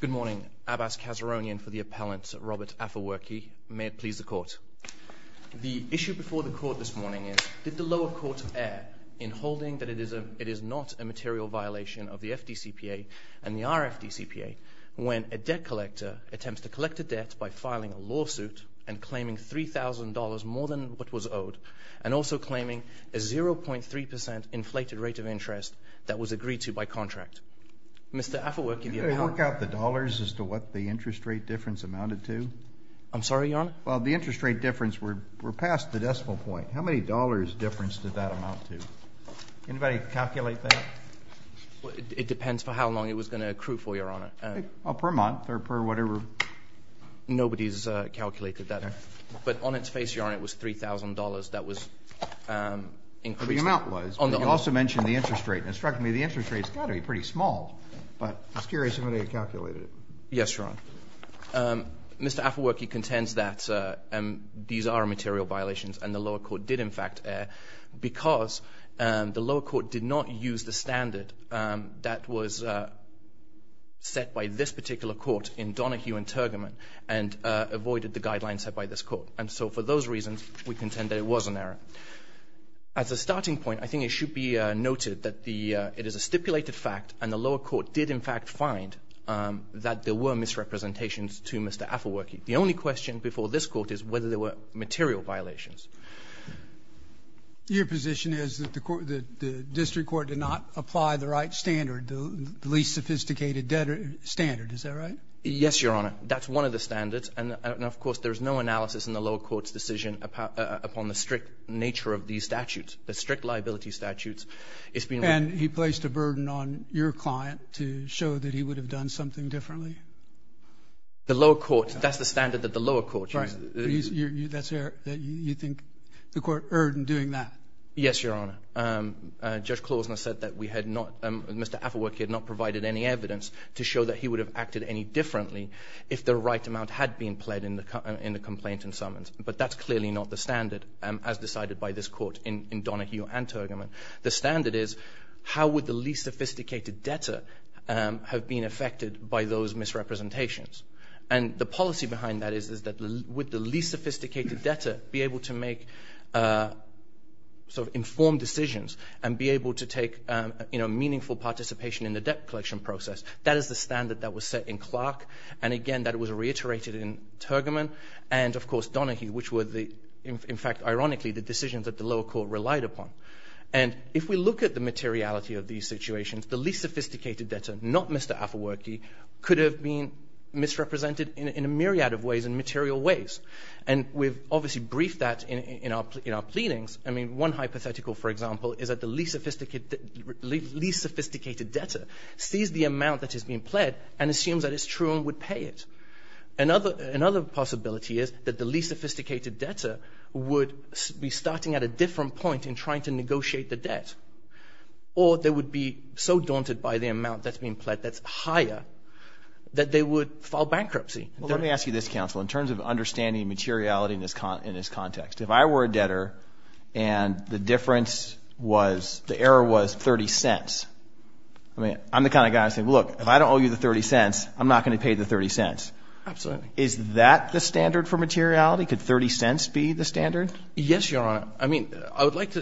Good morning. Abbas Kazaronian for the Appellant Robert Afewerki. May it please the Court. The issue before the Court this morning is, did the lower court err in holding that it is not a material violation of the FDCPA and the RFDCPA when a debt collector attempts to collect a debt by filing a lawsuit and claiming $3,000 more than what was owed and also claiming a 0.3% inflated rate of interest that was agreed to by contract. Mr. Afewerki, the Appellant. Can you work out the dollars as to what the interest rate difference amounted to? I'm sorry, Your Honor? Well, the interest rate difference, we're past the decimal point. How many dollars difference did that amount to? Can anybody calculate that? It depends for how long it was going to accrue for, Your Honor. Well, per month or per whatever. Nobody has calculated that. But on its face, Your Honor, it was $3,000. That was increased on the... The amount was, but you also mentioned the interest rate. And it struck me the interest rate's got to be pretty small. But I was curious if anybody had calculated it. Yes, Your Honor. Mr. Afewerki contends that these are material violations and the lower court did in fact err because the lower court did not use the standard that was set by this particular court in Donahue and Turgamon and avoided the guidelines set by this court. And so for those reasons, we contend that it was an error. As a starting point, I think it should be noted that the the lower court did in fact find that there were misrepresentations to Mr. Afewerki. The only question before this Court is whether there were material violations. Your position is that the court, the district court did not apply the right standard, the least sophisticated standard. Is that right? Yes, Your Honor. That's one of the standards. And of course, there is no analysis in the lower court's decision upon the strict nature of these statutes, the strict liability statutes. It's been... And he placed a burden on your client to show that he would have done something differently? The lower court, that's the standard that the lower court used. Right. That's error. You think the court erred in doing that? Yes, Your Honor. Judge Klausner said that we had not, Mr. Afewerki had not provided any evidence to show that he would have acted any differently if the right amount had been pled in the complaint and summons. But that's clearly not the standard as decided by this Court in Donohue and Torgerman. The standard is how would the least sophisticated debtor have been affected by those misrepresentations? And the policy behind that is that with the least sophisticated debtor be able to make sort of informed decisions and be able to take, you know, meaningful participation in the debt collection process. That is the standard that was set in Clark. And again, that was reiterated in Torgerman and, of course, Donohue, which were the, in fact, ironically, the decisions that the lower court relied upon. And if we look at the materiality of these situations, the least sophisticated debtor, not Mr. Afewerki, could have been misrepresented in a myriad of ways, in material ways. And we've obviously briefed that in our pleadings. I mean, one hypothetical, for example, is that the least sophisticated debtor sees the amount that is being pledged and assumes that it's true and would pay it. Another possibility is that the least sophisticated debtor would be starting at a different point in trying to negotiate the debt. Or they would be so daunted by the amount that's being pledged that's higher that they would file bankruptcy. Well, let me ask you this, counsel, in terms of understanding materiality in this context. If I were a debtor and the difference was, the error was 30 cents, I mean, I'm the kind of guy who would say, look, if I don't owe you the 30 cents, I'm not going to pay the 30 cents. Absolutely. Is that the standard for materiality? Could 30 cents be the standard? Yes, Your Honor. I mean, I would like to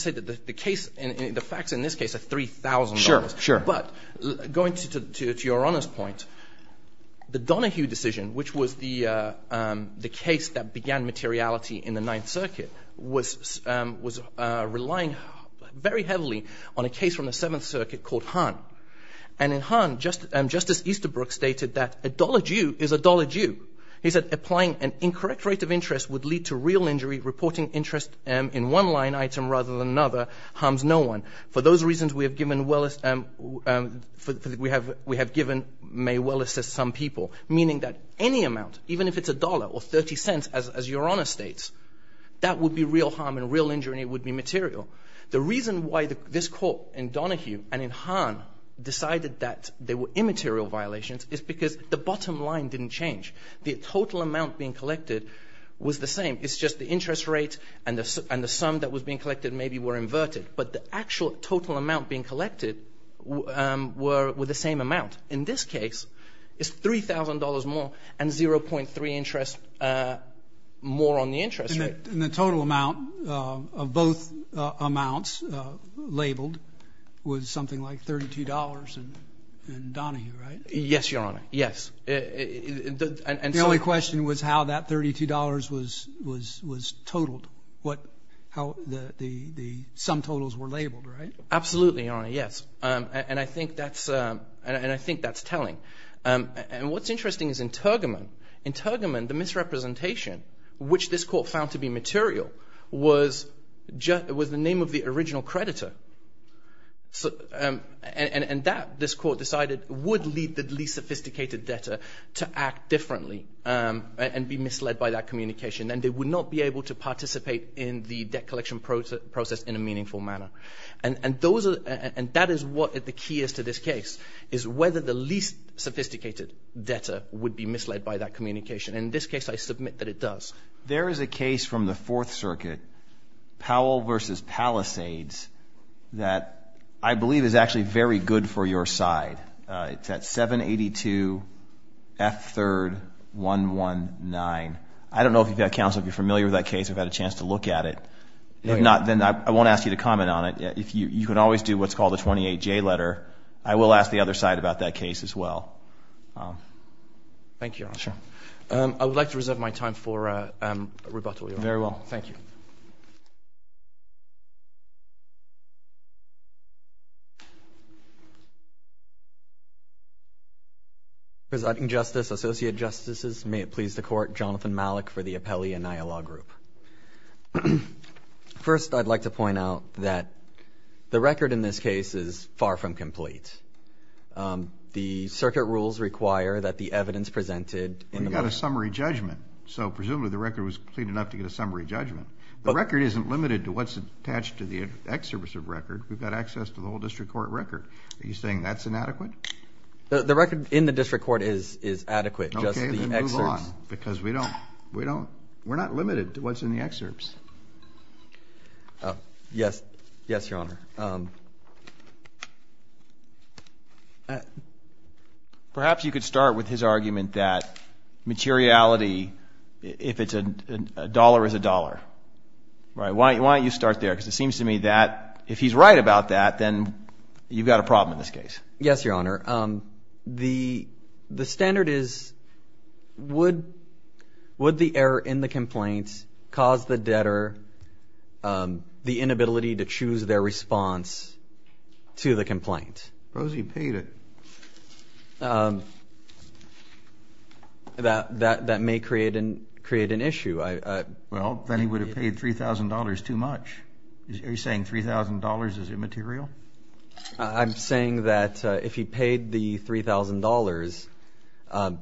say that the case, the facts in this case are $3,000. Sure, sure. But going to Your Honor's point, the Donohue decision, which was the case that began materiality in the Ninth Circuit, was relying very heavily on a case from the Seventh Circuit called Hahn. And in Hahn, Justice Easterbrook stated that a dollar due is a dollar due. He said, applying an incorrect rate of interest would lead to real injury. Reporting interest in one line item rather than another harms no one. For those reasons, we have given May Welles some people, meaning that any amount, even if it's a dollar or 30 cents, as Your Honor states, that would be real harm and real injury would be material. The reason why this court in Donohue and in Hahn decided that they were immaterial violations is because the bottom line didn't change. The total amount being collected was the same. It's just the interest rate and the sum that was being collected maybe were inverted. But the actual total amount being collected were the same amount. In this case, it's $3,000 more and 0.3 interest more on the interest rate. And the total amount of both amounts labeled was something like $32 in Donohue, right? Yes, Your Honor. Yes. The only question was how that $32 was totaled, how the sum totals were labeled, right? Absolutely, Your Honor. Yes. And I think that's telling. And what's interesting is in Turgamon, in Turgamon, the misrepresentation, which this court found to be material, was the name of the original creditor. And that, this court decided, would lead the least sophisticated debtor to act differently and be misled by that communication. And they would not be able to participate in the debt And that is what the key is to this case, is whether the least sophisticated debtor would be misled by that communication. And in this case, I submit that it does. There is a case from the Fourth Circuit, Powell v. Palisades, that I believe is actually very good for your side. It's at 782 F. 3rd 119. I don't know if you've had counsel, if you're familiar with that case, if you've had a chance to look at it. If not, then I won't ask you to comment on it. You can always do what's called a 28-J letter. I will ask the other side about that case as well. Thank you, Your Honor. Sure. I would like to reserve my time for rebuttal, Your Honor. Very well. Thank you. Presiding Justice, Associate Justices, may it please the Court, Jonathan Malik for the report that the record in this case is far from complete. The circuit rules require that the evidence presented in the motion... We got a summary judgment. So presumably the record was complete enough to get a summary judgment. The record isn't limited to what's attached to the excerpts of record. We've got access to the whole district court record. Are you saying that's inadequate? The record in the district court is adequate. Okay, then move on. Because we don't... We're not limited to what's in the excerpts. Yes. Yes, Your Honor. Perhaps you could start with his argument that materiality, if it's a dollar is a dollar. Why don't you start there? Because it seems to me that if he's right about that, then you've got a problem in this case. Yes, Your Honor. The standard is, would the error in the complaints cause the debt to the debtor, the inability to choose their response to the complaint? Suppose he paid it. That may create an issue. Well, then he would have paid $3,000 too much. Are you saying $3,000 is immaterial? I'm saying that if he paid the $3,000,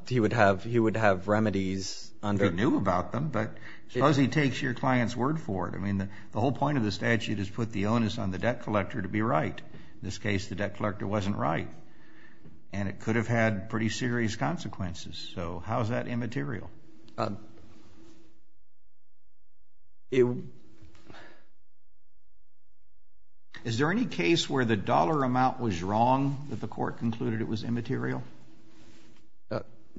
he would have remedies under... He would have knew about them, but suppose he takes your client's word for it. I mean, the whole point of the statute is to put the onus on the debt collector to be right. In this case, the debt collector wasn't right. And it could have had pretty serious consequences. So how is that immaterial? Is there any case where the dollar amount was wrong, that the court concluded it was immaterial?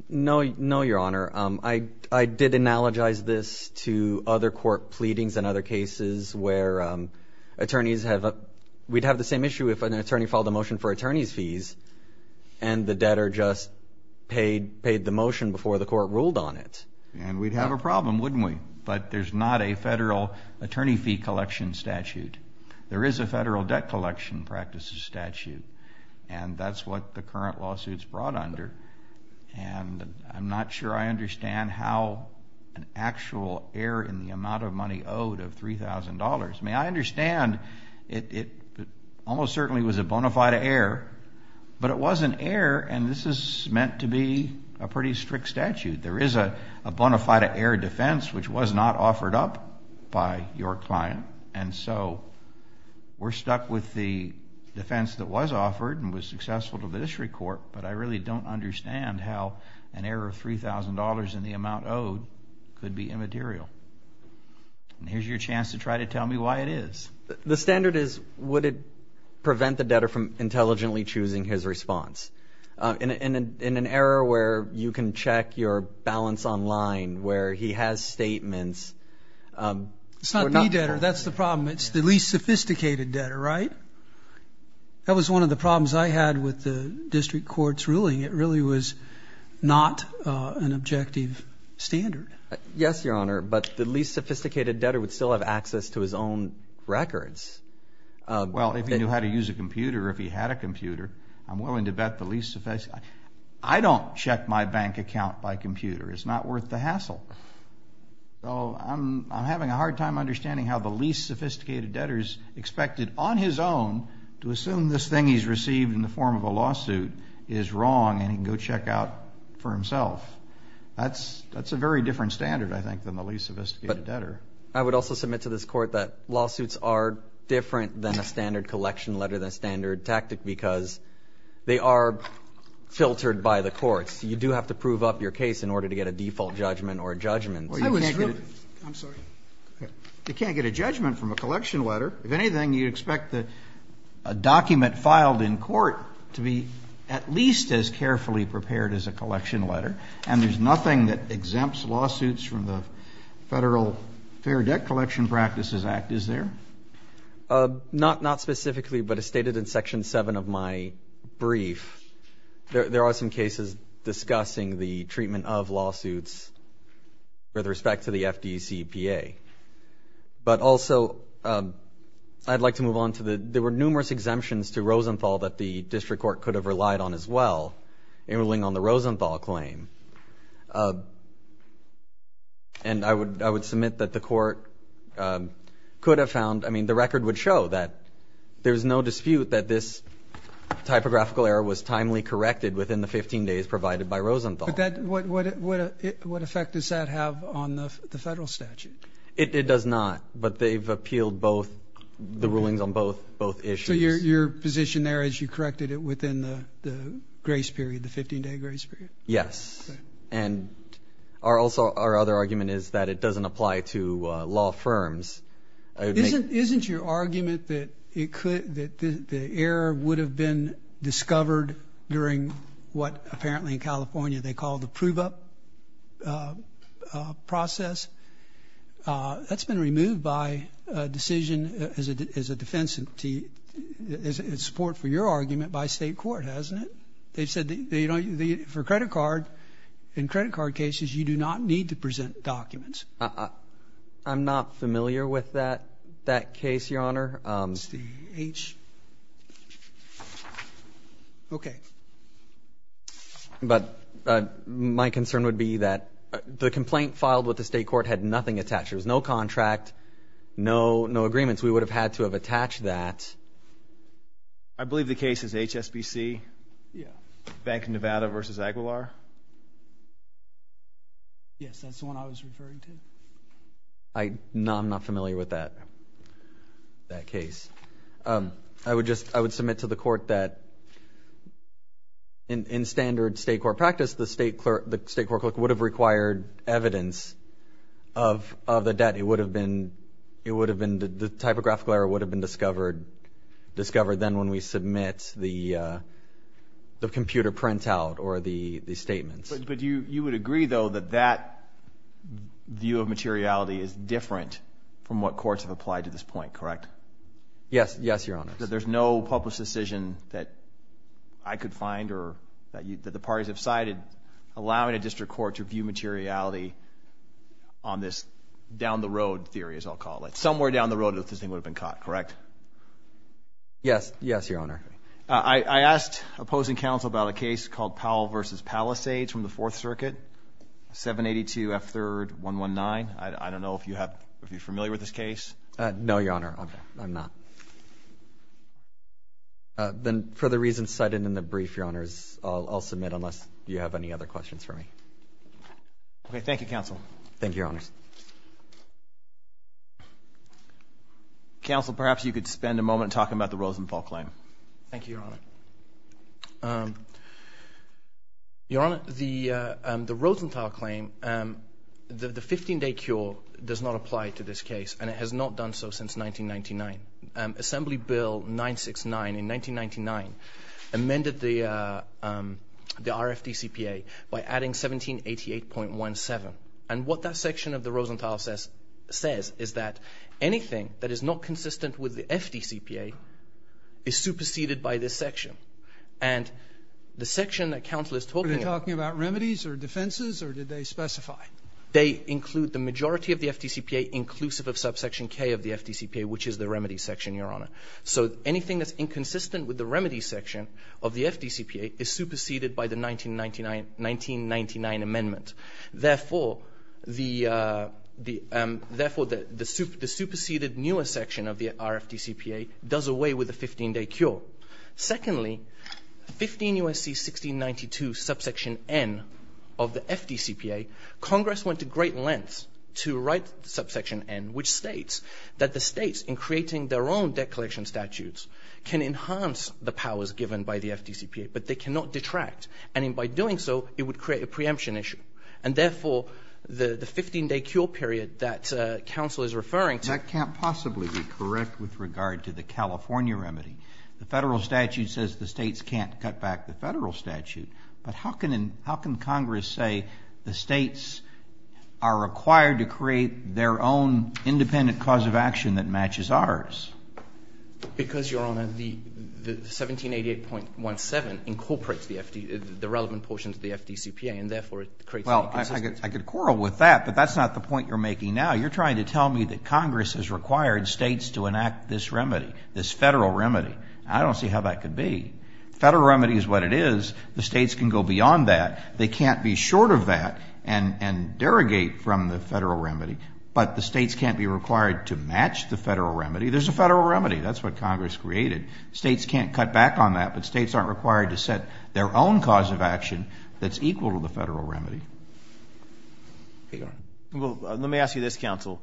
No, Your Honor. I did analogize this to other court pleadings and other cases where attorneys have... We'd have the same issue if an attorney filed a motion for attorney's fees and the debtor just paid the motion before the court ruled on it. And we'd have a problem, wouldn't we? But there's not a federal attorney fee collection statute. There is a federal debt collection practices statute. And that's what the current lawsuit's brought under. And I'm not sure I understand how an actual error in the amount of money owed of $3,000... I mean, I understand it almost certainly was a bona fide error, but it was an error, and this is meant to be a pretty strict statute. There is a bona fide error defense, which was not offered up by your client. And so we're stuck with the defense that was offered and was successful to the district court, but I really don't understand how an error of $3,000 in the amount owed could be immaterial. And here's your chance to try to tell me why it is. The standard is, would it prevent the debtor from intelligently choosing his response? In an error where you can check your balance online, where he has statements... It's not the debtor. That's the problem. It's the least sophisticated debtor, right? That was one of the problems I had with the district court's ruling. It really was not an objective standard. Yes, Your Honor, but the least sophisticated debtor would still have access to his own records. Well, if he knew how to use a computer or if he had a computer, I'm willing to bet the least... I don't check my bank account by computer. It's not worth the hassle. I'm having a hard time understanding how the least sophisticated debtor is expected on his own to assume this thing he's received in the form of a lawsuit is wrong and he can go check out for himself. That's a very different standard, I think, than the least sophisticated debtor. I would also submit to this Court that lawsuits are different than a standard collection letter, than a standard tactic, because they are filtered by the courts. You do have to prove up your case in order to get a default judgment or a judgment. I was... I'm sorry. You can't get a judgment from a collection letter. If anything, you expect a document filed in court to be at least as carefully prepared as a collection letter, and there's nothing that exempts lawsuits from the Federal Fair Debt Collection Practices Act, is there? Not specifically, but as stated in Section 7 of my brief, there are some cases discussing the treatment of lawsuits with respect to the FDCPA. But also, I'd like to move on to the... there were numerous exemptions to Rosenthal that the District Court could have relied on as well, in ruling on the Rosenthal claim. And I would submit that the Court could have found... I mean, the record would show that there's no dispute that this typographical error was timely corrected within the 15 days provided by Rosenthal. But that... what effect does that have on the Federal statute? It does not. But they've appealed both... the rulings on both issues. So your position there is you corrected it within the grace period, the 15-day grace period? Yes. And also, our other argument is that it doesn't apply to law firms. Isn't your argument that it could... that the error would have been discovered during what apparently in California they call the prove-up process? That's been removed by a decision as a defense... in support for your argument by State court, hasn't it? They've said they don't... for credit card... in credit card cases, you do not need to present documents. I'm not familiar with that case, Your Honor. It's the H... Okay. But my concern would be that the complaint filed with the State court had nothing attached. There was no contract, no agreements. We would have had to have attached that. I believe the case is HSBC. Yeah. Bank of Nevada v. Aguilar. Yes, that's the one I was referring to. I... no, I'm not familiar with that... that case. I would just... I would submit to the court that in standard State court practice, the State clerk... the State court clerk would have required evidence of the debt. It would have been... it would have been... the typographical error would have been discovered... discovered then when we submit the computer printout or the... the statements. But you... you would agree, though, that that view of materiality is different from what courts have applied to this point, correct? Yes. Yes, Your Honor. There's no public decision that I could find or that you... that the parties have cited allowing a district court to view materiality on this down-the-road theory, as I'll call it. Somewhere down the road that this thing would have been caught, correct? Yes. Yes, Your Honor. I... I asked opposing counsel about a case called Powell v. Palisades from the Fourth Circuit, 782 F. 3rd 119. I... I don't know if you have... if you're familiar with this case. No, Your Honor. I'm... I'm not. Then for the reasons cited in the brief, Your Honors, I'll... I'll submit unless you have any other questions for me. Thank you, Your Honors. Counsel, perhaps you could spend a moment talking about the Rosenthal claim. Thank you, Your Honor. Your Honor, the... the Rosenthal claim, the... the 15-day cure does not apply to this case, and it has not done so since 1999. Assembly Bill 969, in 1999, amended the... the RFDCPA by adding 1788.17. And what that section of the bill that the Rosenthal says... says is that anything that is not consistent with the FDCPA is superseded by this section. And the section that counsel is talking about... Are they talking about remedies or defenses, or did they specify? They include the majority of the FDCPA inclusive of subsection K of the FDCPA, which is the remedy section, Your Honor. So anything that's inconsistent with the remedy section of the the... therefore, the... the superseded newer section of the RFDCPA does away with the 15-day cure. Secondly, 15 U.S.C. 1692, subsection N of the FDCPA, Congress went to great lengths to write subsection N, which states that the states, in creating their own debt collection statutes, can enhance the powers given by the FDCPA, but they cannot detract. And by doing so, it would create a preemption issue. And therefore, the... the 15-day cure period that counsel is referring to... That can't possibly be correct with regard to the California remedy. The federal statute says the states can't cut back the federal statute, but how can... how can Congress say the states are required to create their own independent cause of action that matches ours? Because, Your Honor, the... the 1788.17 incorporates the FD... the relevant portion to the FDCPA, and therefore, it creates... Well, I could... I could quarrel with that, but that's not the point you're making now. You're trying to tell me that Congress has required states to enact this remedy, this federal remedy. I don't see how that could be. Federal remedy is what it is. The states can go beyond that. They can't be short of that and... and derogate from the federal remedy. There's a federal remedy. That's what Congress created. States can't cut back on that, but states aren't required to set their own cause of action that's equal to the federal remedy. Your Honor. Well, let me ask you this, counsel.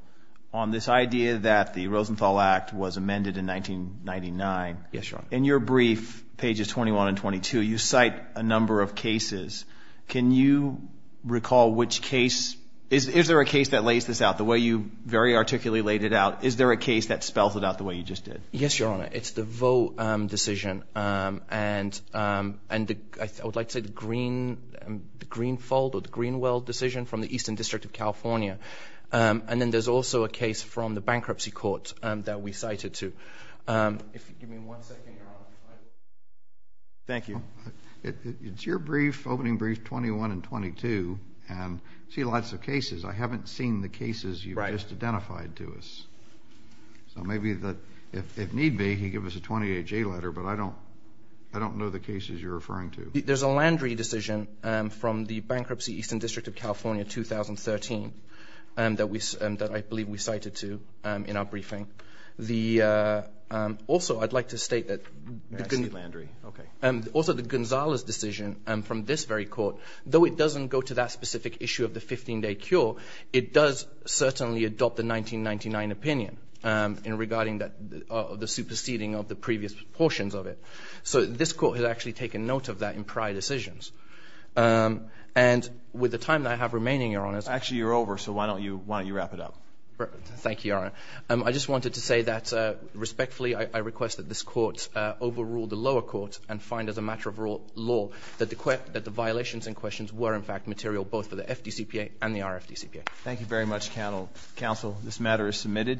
On this idea that the Rosenthal Act was amended in 1999... Yes, Your Honor. In your brief, pages 21 and 22, you cite a number of cases. Can you recall which case... Is there a case that lays this out the way you very articulately laid it out? Is there a case that spells it out the way you just did? Yes, Your Honor. It's the Voe decision and... and the... I would like to say the Green... the Greenfold or the Greenwell decision from the Eastern District of California. And then there's also a case from the bankruptcy court that we cited too. If you give me one second, Your Honor. Thank you. It's your brief, opening brief, 21 and 22, and I see lots of cases. I haven't seen the cases you just identified to us. So maybe that, if need be, you give us a 28-J letter, but I don't... I don't know the cases you're referring to. There's a Landry decision from the bankruptcy Eastern District of California, 2013, that we... that I believe we cited too in our briefing. The... Also, I'd like to state that... I see Landry. Okay. Also, the Gonzalez decision from this very court, though it doesn't go to that specific issue of the 15-day cure, it does certainly adopt the 1999 opinion in regarding that... the superseding of the previous portions of it. So this court has actually taken note of that in prior decisions. And with the time that I have remaining, Your Honor... Actually, you're over, so why don't you... why don't you wrap it up? Thank you, Your Honor. I just wanted to say that, respectfully, I request that this court overrule the lower court and find as a matter of law that the... that the violations in questions were, in fact, material both for the FDCPA and the RFDCPA. Thank you very much, Counsel. This matter is submitted.